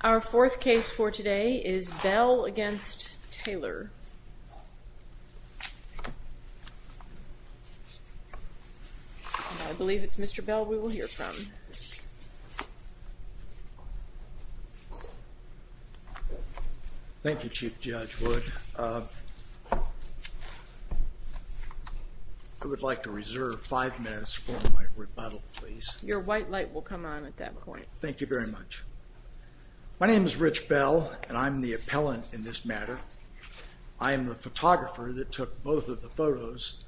Our fourth case for today is Bell v. Taylor. I believe it's Mr. Bell we will hear from. Thank you Chief Judge Wood. I would like to reserve five minutes for my report. Thank you very much. My name is Rich Bell and I'm the appellant in this matter. I am the photographer that took both of the photos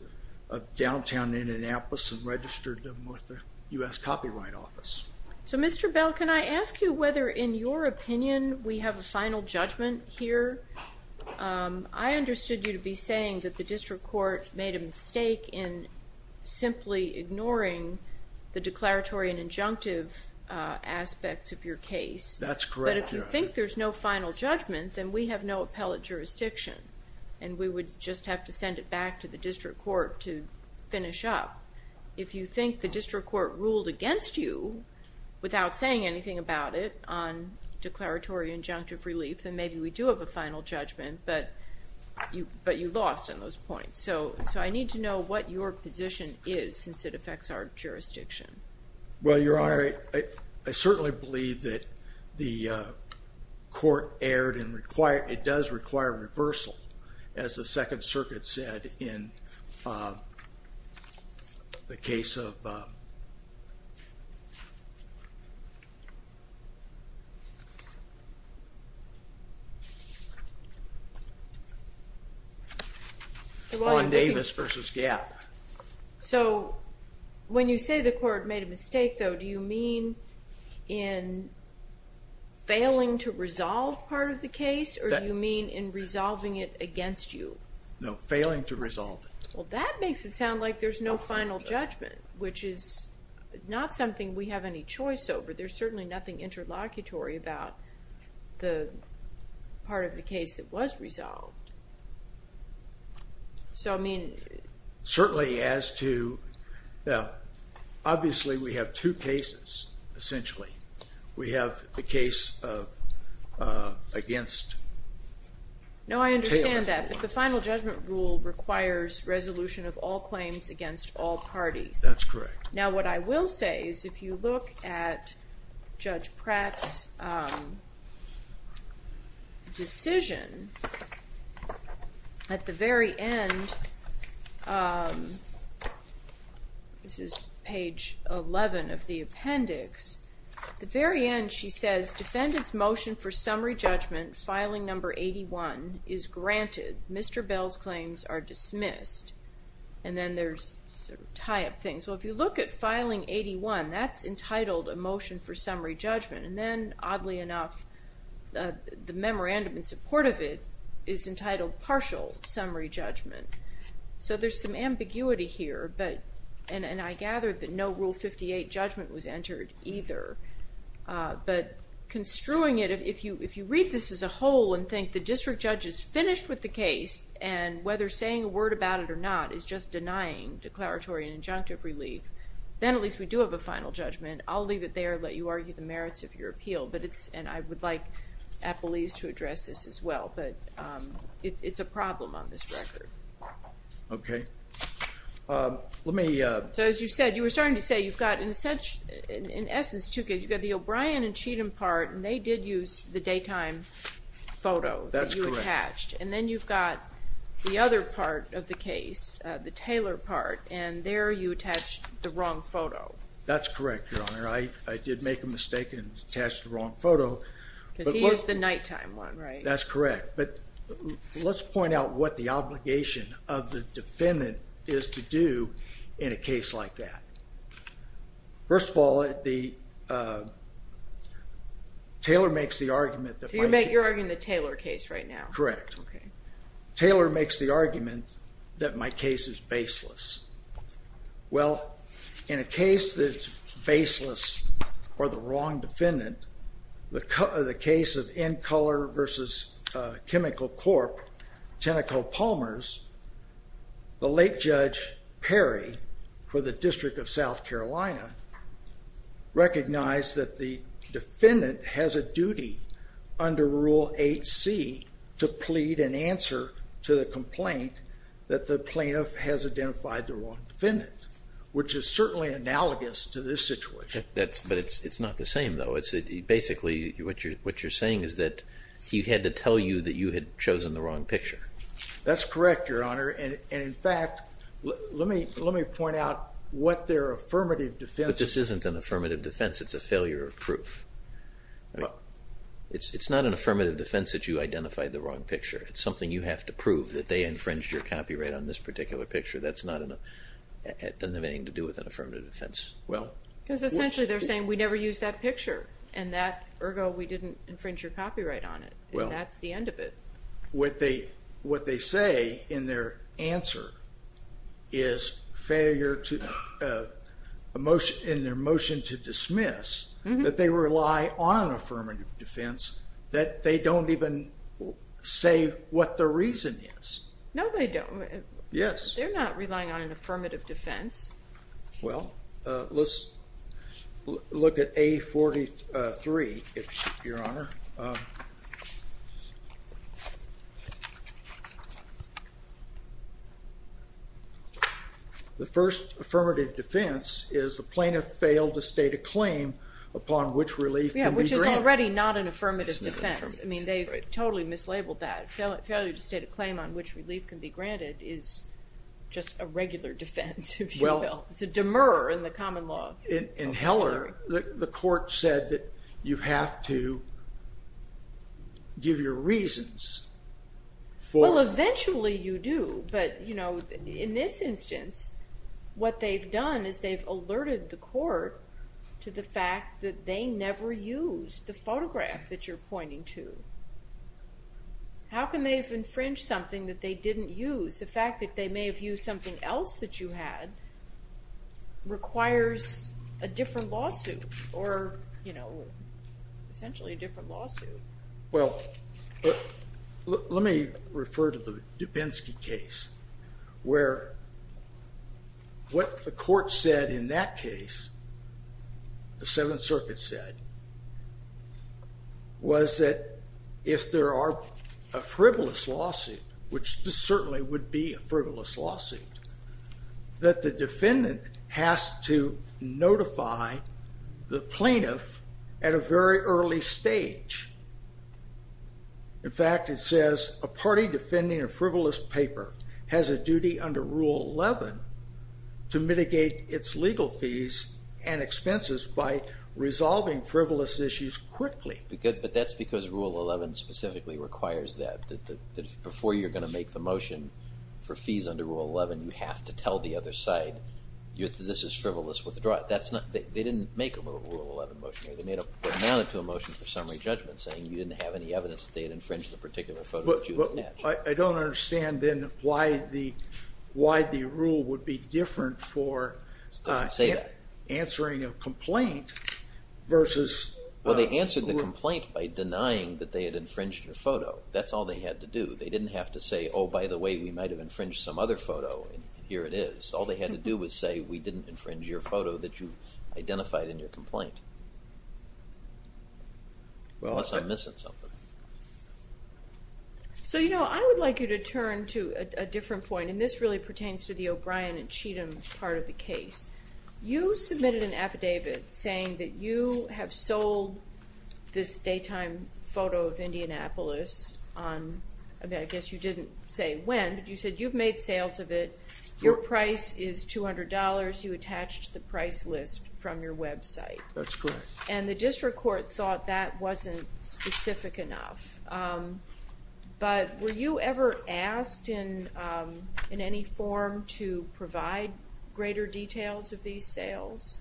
of downtown Indianapolis and registered them with the U.S. Copyright Office. So Mr. Bell can I ask you whether in your opinion we have a final judgment here? I understood you to be saying that the District Court made a mistake in simply ignoring the declaratory and injunctive aspects of your case. That's correct. But if you think there's no final judgment then we have no appellate jurisdiction and we would just have to send it back to the District Court to finish up. If you think the District Court ruled against you without saying anything about it on declaratory injunctive relief then maybe we do have a final judgment but you lost on those points. I need to know what your position is since it affects our jurisdiction. Well Your Honor, I certainly believe that the court erred and it does require reversal as the Second Circuit said in the case of Davis v. Gap. So when you say the court made a mistake though do you mean in failing to resolve part of the case or do you mean in resolving it against you? No, failing to resolve it. Well that makes it sound like there's no final judgment which is not something we have any choice over. There's certainly nothing interlocutory about the part of the case that was resolved. So I mean against. No, I understand that but the final judgment rule requires resolution of all claims against all parties. That's correct. Now what I will say is if you look at Judge Pratt's decision at the very end, this is page 11 of the appendix, at the very end she says defendants motion for summary judgment filing number 81 is granted. Mr. Bell's claims are dismissed and then there's tie-up things. Well if you look at filing 81 that's entitled a motion for summary judgment and then oddly enough the memorandum in support of it is entitled partial summary judgment. So there's some ambiguity here but and I gathered that no rule 58 judgment was entered either but construing it if you if you read this as a whole and think the district judge is finished with the case and whether saying a word about it or not is just denying declaratory and injunctive relief then at least we do have a final judgment. I'll leave it there, let you argue the merits of your appeal but it's and I would like appellees to address this as well but it's a problem on this record. Okay let me. So as you said you were starting to say you've got in such in essence you've got the O'Brien and Cheatham part and they did use the daytime photo that you attached and then you've got the other part of the case the Taylor part and there you attached the wrong photo. That's correct your honor I did make a mistake and attached the wrong photo. Because he used the nighttime one right? That's correct but let's point out what the obligation of the defendant is to do in a case like that. First of all the Taylor makes the argument that. You're arguing the Taylor case right now. Correct. Okay Taylor makes the argument that my case is baseless. Well in a case that's baseless or the wrong defendant the case of in color versus chemical corp Tenneco Palmers the late Judge Perry for the District of South Carolina recognized that the defendant has a duty under Rule 8c to plead an answer to the complaint that the plaintiff has identified the wrong defendant which is certainly analogous to this situation. That's but it's it's not the same though it's basically what you're what you're saying is that he had to tell you that you had chosen the wrong picture. That's correct your honor and in fact let me let me point out what their affirmative defense is. But this isn't an affirmative defense it's a failure of proof. It's it's not an affirmative defense that you identified the wrong picture it's something you have to prove that they infringed your copyright on this particular picture that's not enough it doesn't have anything to do with an affirmative defense. Well because essentially they're saying we never used that picture and that ergo we didn't infringe your copyright on it well that's the end of it. What they what they say in their answer is failure to emotion in their motion to dismiss that they rely on affirmative defense that they don't even say what the reason is. No they don't. Yes. They're The first affirmative defense is the plaintiff failed to state a claim upon which relief. Yeah which is already not an affirmative defense. I mean they totally mislabeled that failure to state a claim on which relief can be granted is just a regular defense. Well it's a demur in the common law. In Heller the court said that you have to give your reasons for. Well eventually you do but you know in this instance what they've done is they've alerted the court to the fact that they never used the photograph that you're pointing to. How can they have infringed something that they didn't use the fact that they may have used something else that you had requires a different lawsuit or you know essentially a different lawsuit. Well let me refer to the Dubinsky case where what the court said in that case the Seventh Circuit said was that if there are a frivolous lawsuit which this certainly would be a frivolous lawsuit that the plaintiff at a very early stage, in fact it says a party defending a frivolous paper has a duty under Rule 11 to mitigate its legal fees and expenses by resolving frivolous issues quickly. But that's because Rule 11 specifically requires that before you're going to make the motion for fees under Rule 11 you have to tell the other side this is frivolous withdraw it. That's not, they didn't make a Rule 11 motion, they made a, they amounted to a motion for summary judgment saying you didn't have any evidence that they had infringed the particular photo that you had. But I don't understand then why the rule would be different for answering a complaint versus. Well they answered the complaint by denying that they had infringed your photo, that's all they had to do. They didn't have to say oh by the way we might have infringed some other photo and here it is. All they had to do was say we didn't infringe your photo that you identified in your complaint. Well I guess I'm missing something. So you know I would like you to turn to a different point and this really pertains to the O'Brien and Cheatham part of the case. You submitted an affidavit saying that you have sold this daytime photo of Indianapolis on, I guess you didn't say when, but you said you've made sales of it, your price is $200, you attached the price list from your website. That's correct. And the district court thought that wasn't specific enough. But were you ever asked in any form to provide greater details of these sales?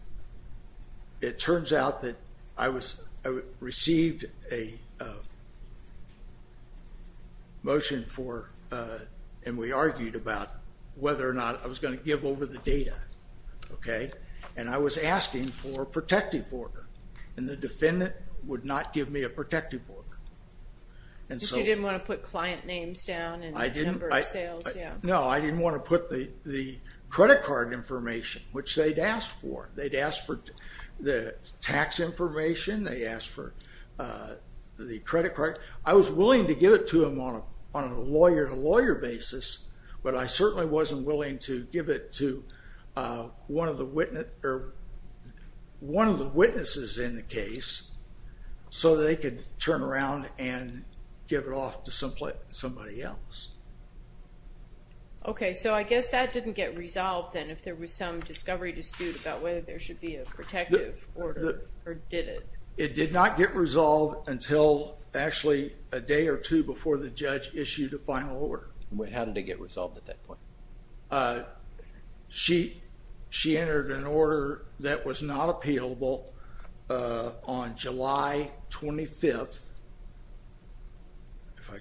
It turns out that I was, I received a motion for, and we argued about whether or not I was going to give over the data, okay, and I was asking for a protective order and the defendant would not give me a protective order. So you didn't want to put client names down and the number of sales. No, I didn't want to put the credit card information, which they'd asked for. They'd asked for the tax information, they asked for the credit card. I was willing to give it to him on a lawyer-to-lawyer basis, but I certainly wasn't willing to give it to one of the witnesses in the case so they could turn around and give it off to somebody else. Okay, so I guess that didn't get resolved then if there was some discovery dispute about whether there should be a protective order or did it? It did not get resolved until actually a day or two before the judge issued a final order. How did it get resolved at that point? She entered an order that was not appealable on July 25th, if I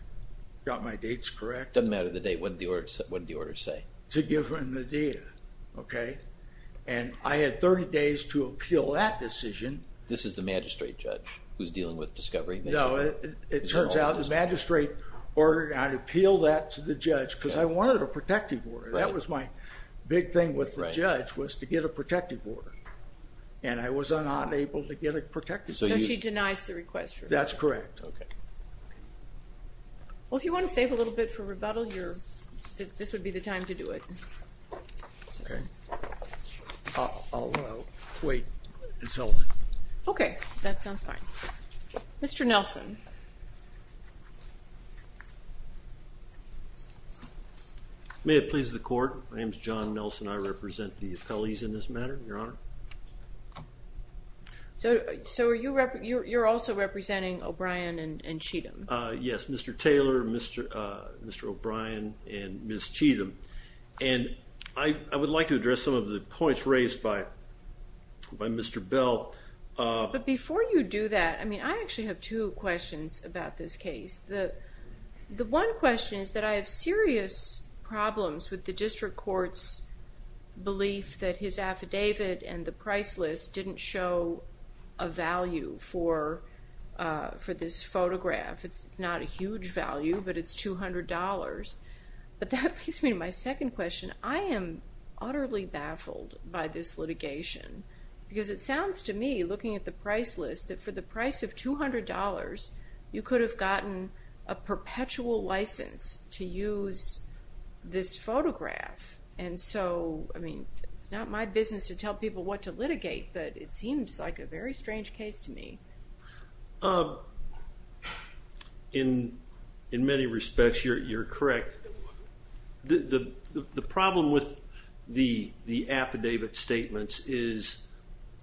got my dates correct. It doesn't matter the date, what did the date? Okay, and I had 30 days to appeal that decision. This is the magistrate judge who's dealing with discovery? No, it turns out the magistrate ordered I'd appeal that to the judge because I wanted a protective order. That was my big thing with the judge was to get a protective order and I was unable to get a protective order. So she denies the request? That's correct. Okay, well if you want to take a little bit for rebuttal, this would be the time to do it. I'll wait until then. Okay, that sounds fine. Mr. Nelson. May it please the court, my name is John Nelson. I represent the appellees in this matter, Your Honor. So you're also representing O'Brien and Cheatham? Yes, Mr. Taylor, Mr. O'Brien, and Ms. Cheatham. And I would like to address some of the points raised by Mr. Bell. But before you do that, I mean I actually have two questions about this case. The one question is that I have serious problems with the district court's belief that his affidavit and for this photograph, it's not a huge value, but it's $200. But that leads me to my second question. I am utterly baffled by this litigation because it sounds to me, looking at the price list, that for the price of $200, you could have gotten a perpetual license to use this photograph. And so, I mean, it's not my business to tell people what to litigate, but it seems like a very strange case to me. In many respects, you're correct. The problem with the affidavit statements is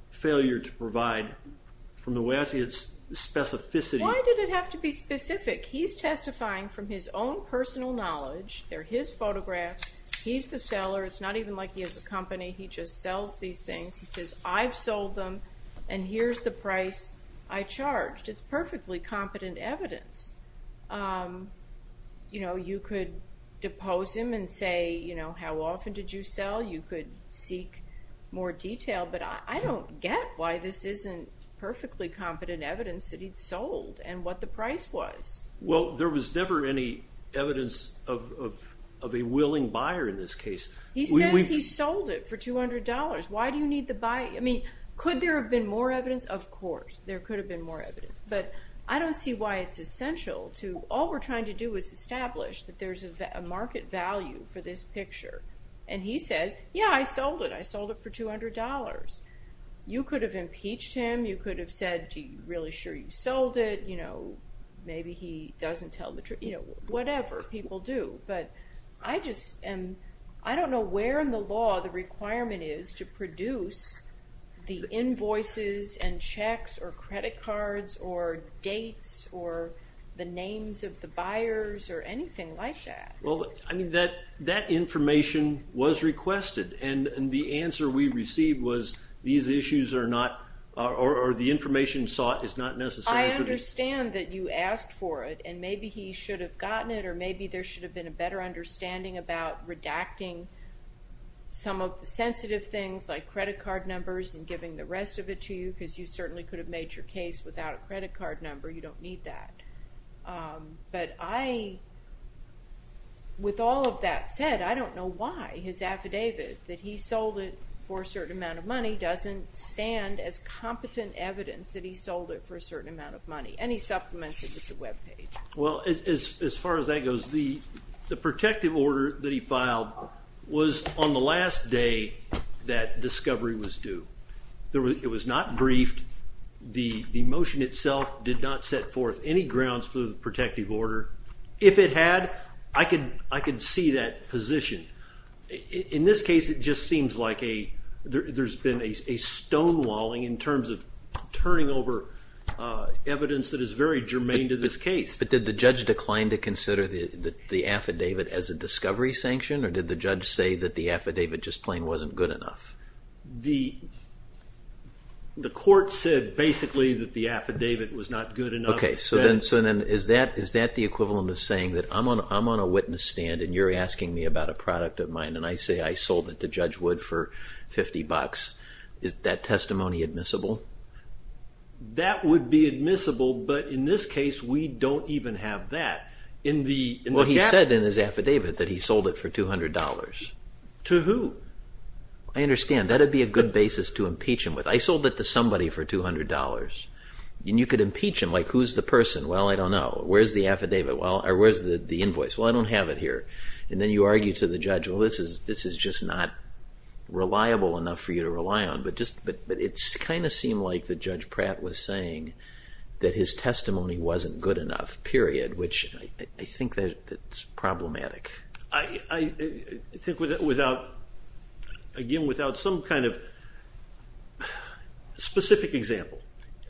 failure to provide, from the way I see it, specificity. Why did it have to be specific? He's testifying from his own personal knowledge. They're his photographs. He's the seller. It's not even like he has a price I charged. It's perfectly competent evidence. You know, you could depose him and say, you know, how often did you sell? You could seek more detail, but I don't get why this isn't perfectly competent evidence that he'd sold and what the price was. Well, there was never any evidence of a willing buyer in this case. He says he sold it for $200. Why do you need the buyer? I mean, could there have been more evidence? Of course, there could have been more evidence, but I don't see why it's essential to, all we're trying to do is establish that there's a market value for this picture. And he says, yeah, I sold it. I sold it for $200. You could have impeached him. You could have said, gee, really sure you sold it? You know, maybe he doesn't tell the truth. You know, whatever people do, but I just am, I don't know where in the law the requirement is to produce the invoice and checks or credit cards or dates or the names of the buyers or anything like that. Well, I mean, that information was requested and the answer we received was these issues are not, or the information sought is not necessary. I understand that you asked for it and maybe he should have gotten it or maybe there should have been a better understanding about redacting some of things like credit card numbers and giving the rest of it to you because you certainly could have made your case without a credit card number. You don't need that. But I, with all of that said, I don't know why his affidavit that he sold it for a certain amount of money doesn't stand as competent evidence that he sold it for a certain amount of money. And he supplements it with the webpage. Well, as far as that goes, the protective order that he filed was on the last day that discovery was due. It was not briefed. The motion itself did not set forth any grounds for the protective order. If it had, I could see that position. In this case, it just seems like there's been a stonewalling in terms of turning over evidence that is very germane to this case. But did the judge decline to consider the affidavit as a discovery sanction or did the judge say that the affidavit just plain wasn't good enough? The court said basically that the affidavit was not good enough. Okay, so then is that the equivalent of saying that I'm on a witness stand and you're asking me about a product of mine and I say I sold it to Judge Wood for 50 bucks. Is that testimony admissible? That would be admissible, but in this case we don't even have that. Well, he said in his affidavit that he sold it for $200. To who? I understand. That would be a good basis to impeach him with. I sold it to somebody for $200. And you could impeach him like, who's the person? Well, I don't know. Where's the affidavit? Well, where's the invoice? Well, I don't have it here. And then you argue to the judge, well, this is just not reliable enough for you to rely on. But it's kind of seemed like the Judge Pratt was saying that his testimony wasn't good enough, period. I think that's problematic. I think without, again, without some kind of specific example.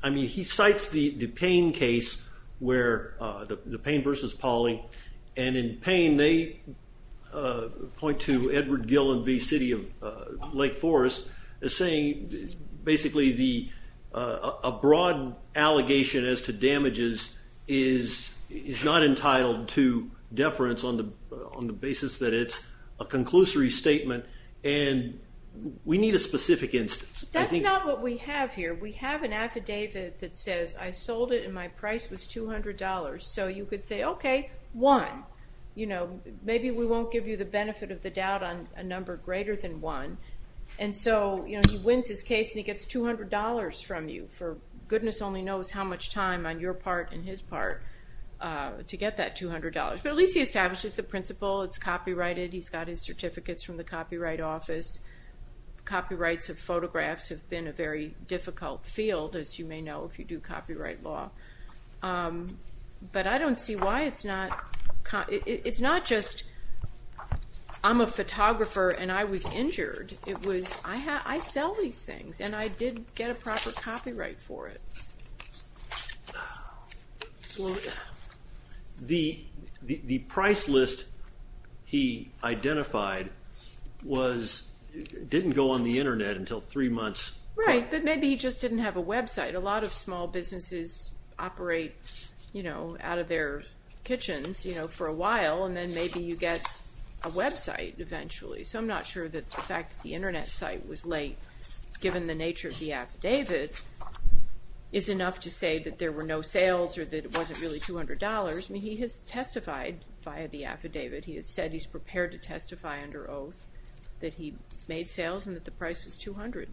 I mean, he cites the Payne case where the Payne versus Pawley, and in Payne they point to Edward Gill and the City of Lake Forest as basically a broad allegation as to damages is not entitled to deference on the basis that it's a conclusory statement. And we need a specific instance. That's not what we have here. We have an affidavit that says I sold it and my price was $200. So you could say, okay, one. You know, maybe we won't give you the benefit of the doubt on a number greater than one. And so, you know, he wins his case and he gets $200 from you for goodness only knows how much time on your part and his part to get that $200. But at least he establishes the principle. It's copyrighted. He's got his certificates from the Copyright Office. Copyrights of photographs have been a very difficult field, as you may know, if you do copyright law. But I don't see why it's not just, I'm a photographer and I was injured. It was, I sell these things and I did get a proper copyright for it. The price list he identified didn't go on the internet until three months. Right, but maybe he just didn't have a website. A lot of small businesses operate, you know, out of their kitchen for a while and then maybe you get a website eventually. So I'm not sure that the fact the internet site was late, given the nature of the affidavit, is enough to say that there were no sales or that it wasn't really $200. I mean, he has testified via the affidavit. He has said he's prepared to testify under oath that he made sales and that the price was $200.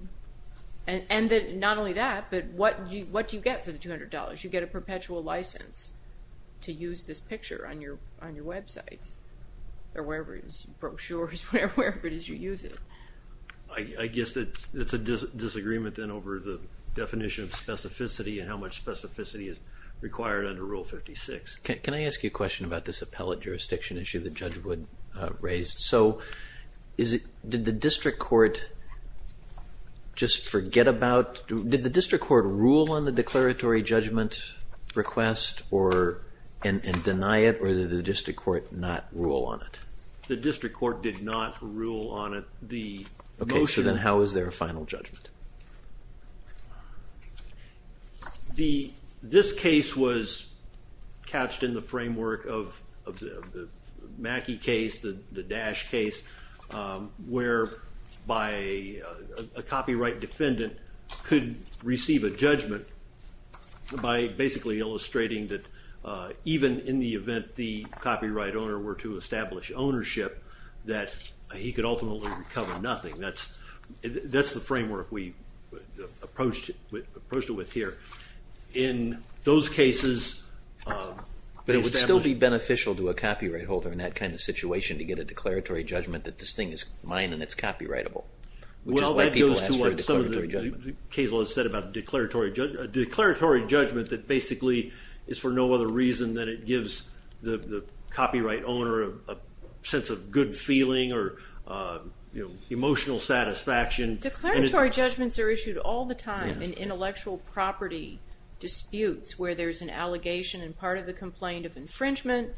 And that not only that, but what do you get for the $200? You get a perpetual license to use this picture on your websites or wherever it is, brochures, wherever it is you use it. I guess it's a disagreement then over the definition of specificity and how much specificity is required under Rule 56. Can I ask you a question about this appellate jurisdiction issue that Judge Wood raised? So, did the district court just forget about, did the district court rule on the declaratory judgment request and deny it or did the district court not rule on it? The district court did not rule on it. Okay, so then how is there a final judgment? This case was catched in the framework of the Mackey case, the Dash case, where a copyright defendant could receive a judgment by basically illustrating that even in the event the copyright owner were to establish ownership, that he could ultimately recover nothing. That's the framework we approached it with here. In those cases... But it would still be beneficial to a copyright holder in that kind of situation to get a declaratory judgment that this thing is mine and it's copyrightable. Well, that goes to what Cazel has said about declaratory judgment that basically is for no other reason than it gives the copyright owner a sense of good feeling or emotional satisfaction. Declaratory judgments are issued all the time in intellectual property disputes where there's an allegation and part of the complaint of infringement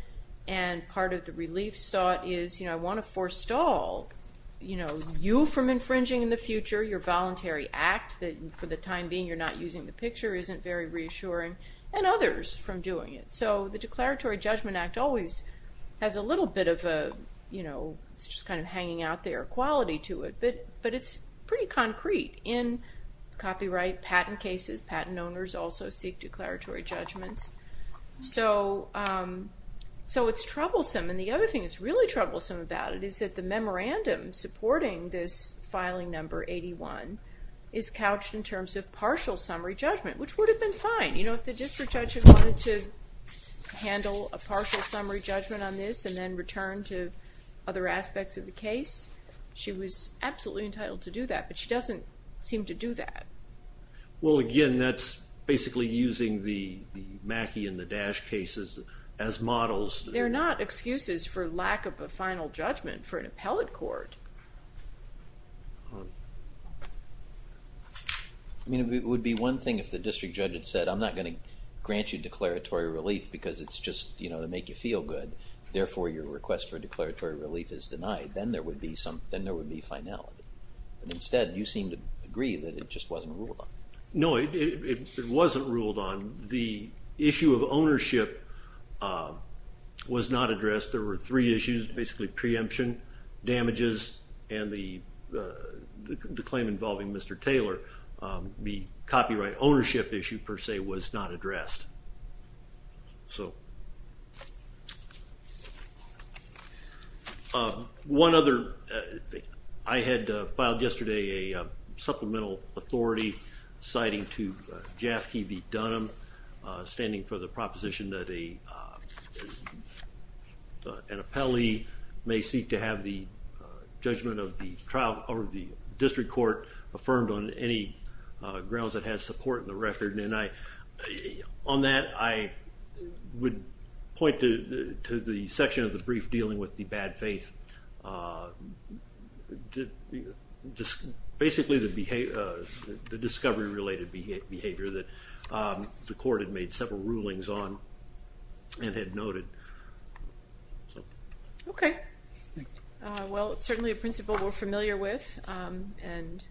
and part of the relief sought is, you know, I want to stall, you know, you from infringing in the future, your voluntary act that for the time being you're not using the picture isn't very reassuring, and others from doing it. So the Declaratory Judgment Act always has a little bit of a, you know, it's just kind of hanging out there quality to it, but it's pretty concrete in copyright patent cases. Patent owners also seek declaratory judgments. So it's troublesome and the other thing that's really troublesome about it is that the memorandum supporting this filing number 81 is couched in terms of partial summary judgment, which would have been fine, you know, if the district judge had wanted to handle a partial summary judgment on this and then return to other aspects of the case, she was absolutely entitled to do that, but she doesn't seem to do that. Well again, that's basically using the Mackey and the Dash cases as models. They're not excuses for lack of a final judgment for an appellate court. I mean it would be one thing if the district judge had said I'm not going to grant you declaratory relief because it's just, you know, to make you feel good, therefore your request for declaratory relief is denied. Then there would be some, then there would be finality, but instead you seem to agree that it just wasn't ruled on. No, it wasn't ruled on. The issue of ownership was not addressed. There were three issues, basically preemption, damages, and the claim involving Mr. Taylor. The copyright ownership issue per se was not addressed. One other, I had filed yesterday a supplemental authority citing to Jaffke v. Dunham, standing for the proposition that an appellee may seek to have the judgment of the trial over the district court affirmed on any grounds that has support in the record, and on that I would point to the section of the brief dealing with the bad faith, basically the discovery-related behavior that the court had made several rulings on and had noted. Okay, well it's certainly a principle we're familiar with and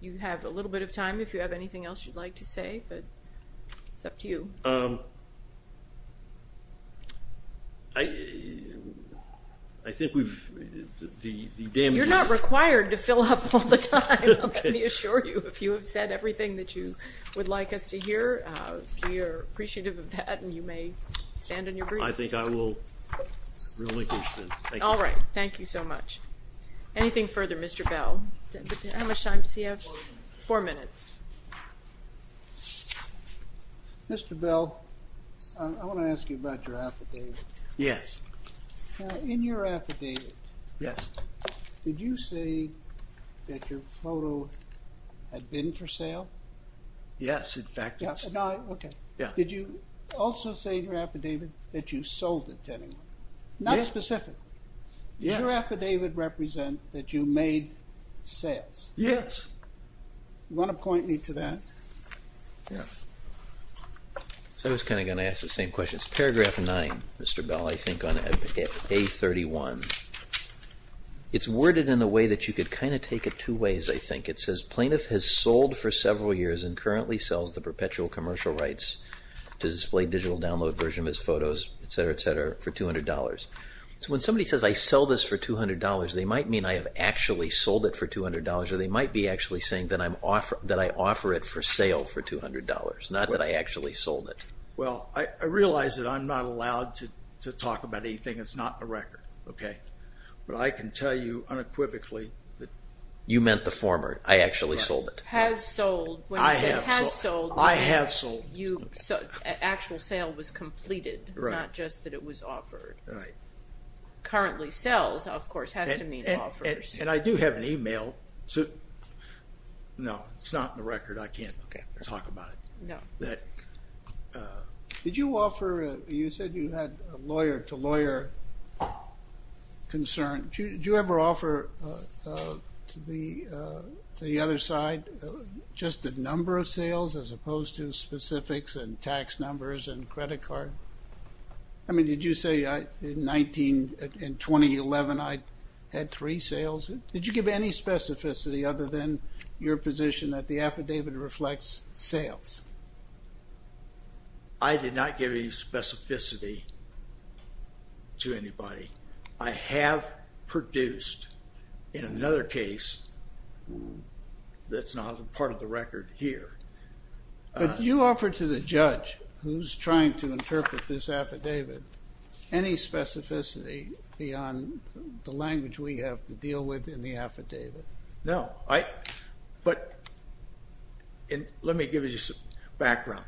you have a little bit of time if you have anything else you'd like to say, but it's up to you. I think we've... You're not required to fill up all the time, let me assure you. If you have said everything that you would like us to hear, we are appreciative of that and you may stand on your brief. I think I will relinquish this. All right, thank you so much. Anything How much time does he have? Four minutes. Mr. Bell, I want to ask you about your affidavit. Yes. In your affidavit, did you say that your photo had been for sale? Yes, in fact it's... Okay, did you also say in your affidavit that you sold it to anyone? Not specific. Yes. Does your affidavit represent that you made sales? Yes. You want to point me to that? Yes. So I was kind of going to ask the same question. It's paragraph 9, Mr. Bell, I think on A31. It's worded in a way that you could kind of take it two ways, I think. It says plaintiff has sold for several years and currently sells the perpetual commercial rights to display digital download version of his So when somebody says I sell this for $200, they might mean I have actually sold it for $200 or they might be actually saying that I'm offer that I offer it for sale for $200, not that I actually sold it. Well, I realize that I'm not allowed to talk about anything that's not a record, okay, but I can tell you unequivocally that... You meant the former, I actually sold it. Has sold. I have sold. Actual sale was completed, not just that it was offered. Right. Currently sells, of course, has to mean offers. And I do have an email. No, it's not in the record. I can't talk about it. No. Did you offer, you said you had lawyer-to-lawyer concern. Did you ever offer to the other side just the number of sales as opposed to specifics and tax numbers and credit card? I mean, did you say in 2011 I had three sales? Did you give any specificity other than your position that the affidavit reflects sales? I did not give any specificity to anybody. I have produced in another case that's not a part of the record. Did you offer to the judge who's trying to interpret this affidavit any specificity beyond the language we have to deal with in the affidavit? No, I, but and let me give you some background.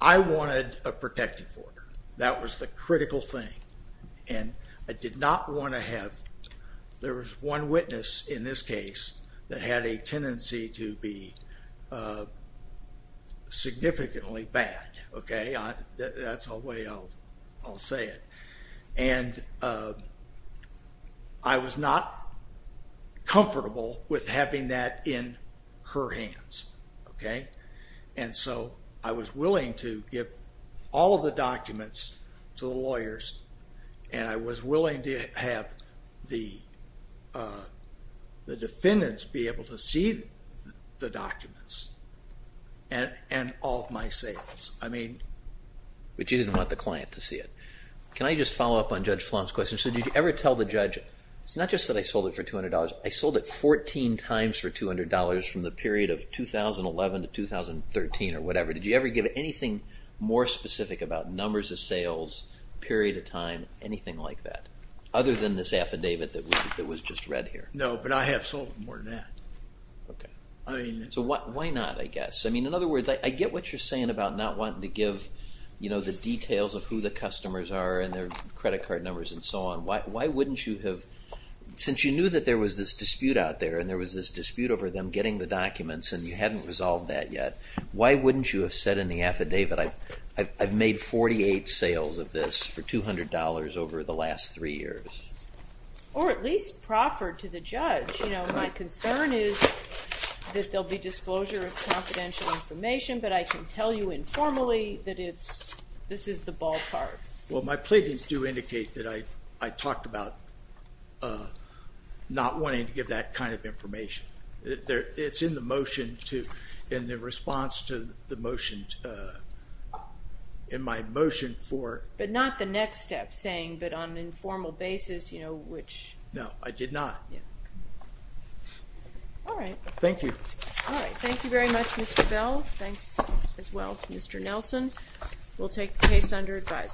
I wanted a protective order. That was the critical thing and I did not want to have, there was one witness in this case that had a tendency to be significantly bad. Okay, that's the way I'll say it. And I was not comfortable with having that in her hands. Okay, and so I was willing to give all of the documents to the lawyers and I was willing to have the defendants be able to see the documents and all of my sales. I mean, but you didn't want the client to see it. Can I just follow up on Judge Flom's question? So did you ever tell the judge, it's not just that I sold it for $200, I sold it 14 times for $200 from the period of 2011 to 2013 or whatever. Did you ever give anything more specific about numbers of sales, period of time, anything like that, other than this affidavit that was just read here? No, but I have sold more than that. Okay, so why not, I guess? I mean, in other words, I get what you're saying about not wanting to give, you know, the details of who the customers are and their credit card numbers and so on. Why wouldn't you have, since you knew that there was this dispute out there and there was this dispute over them getting the documents and you hadn't resolved that yet, why wouldn't you have said in the affidavit, I've made 48 sales of this for $200 over the last three years? Or at least proffered to the judge. You know, my concern is that there'll be disclosure of confidential information, but I can tell you informally that this is the ballpark. Well, my pleadings do indicate that I talked about not wanting to give that kind of information. It's in the motion to, in the response to the motion, in my motion for... But not the next step, saying, but on an informal basis, you know, which... No, I did not. All right. Thank you. All right, thank you very much, Mr. Bell. Thanks as well, Mr. Nelson. We'll take the case under advisement.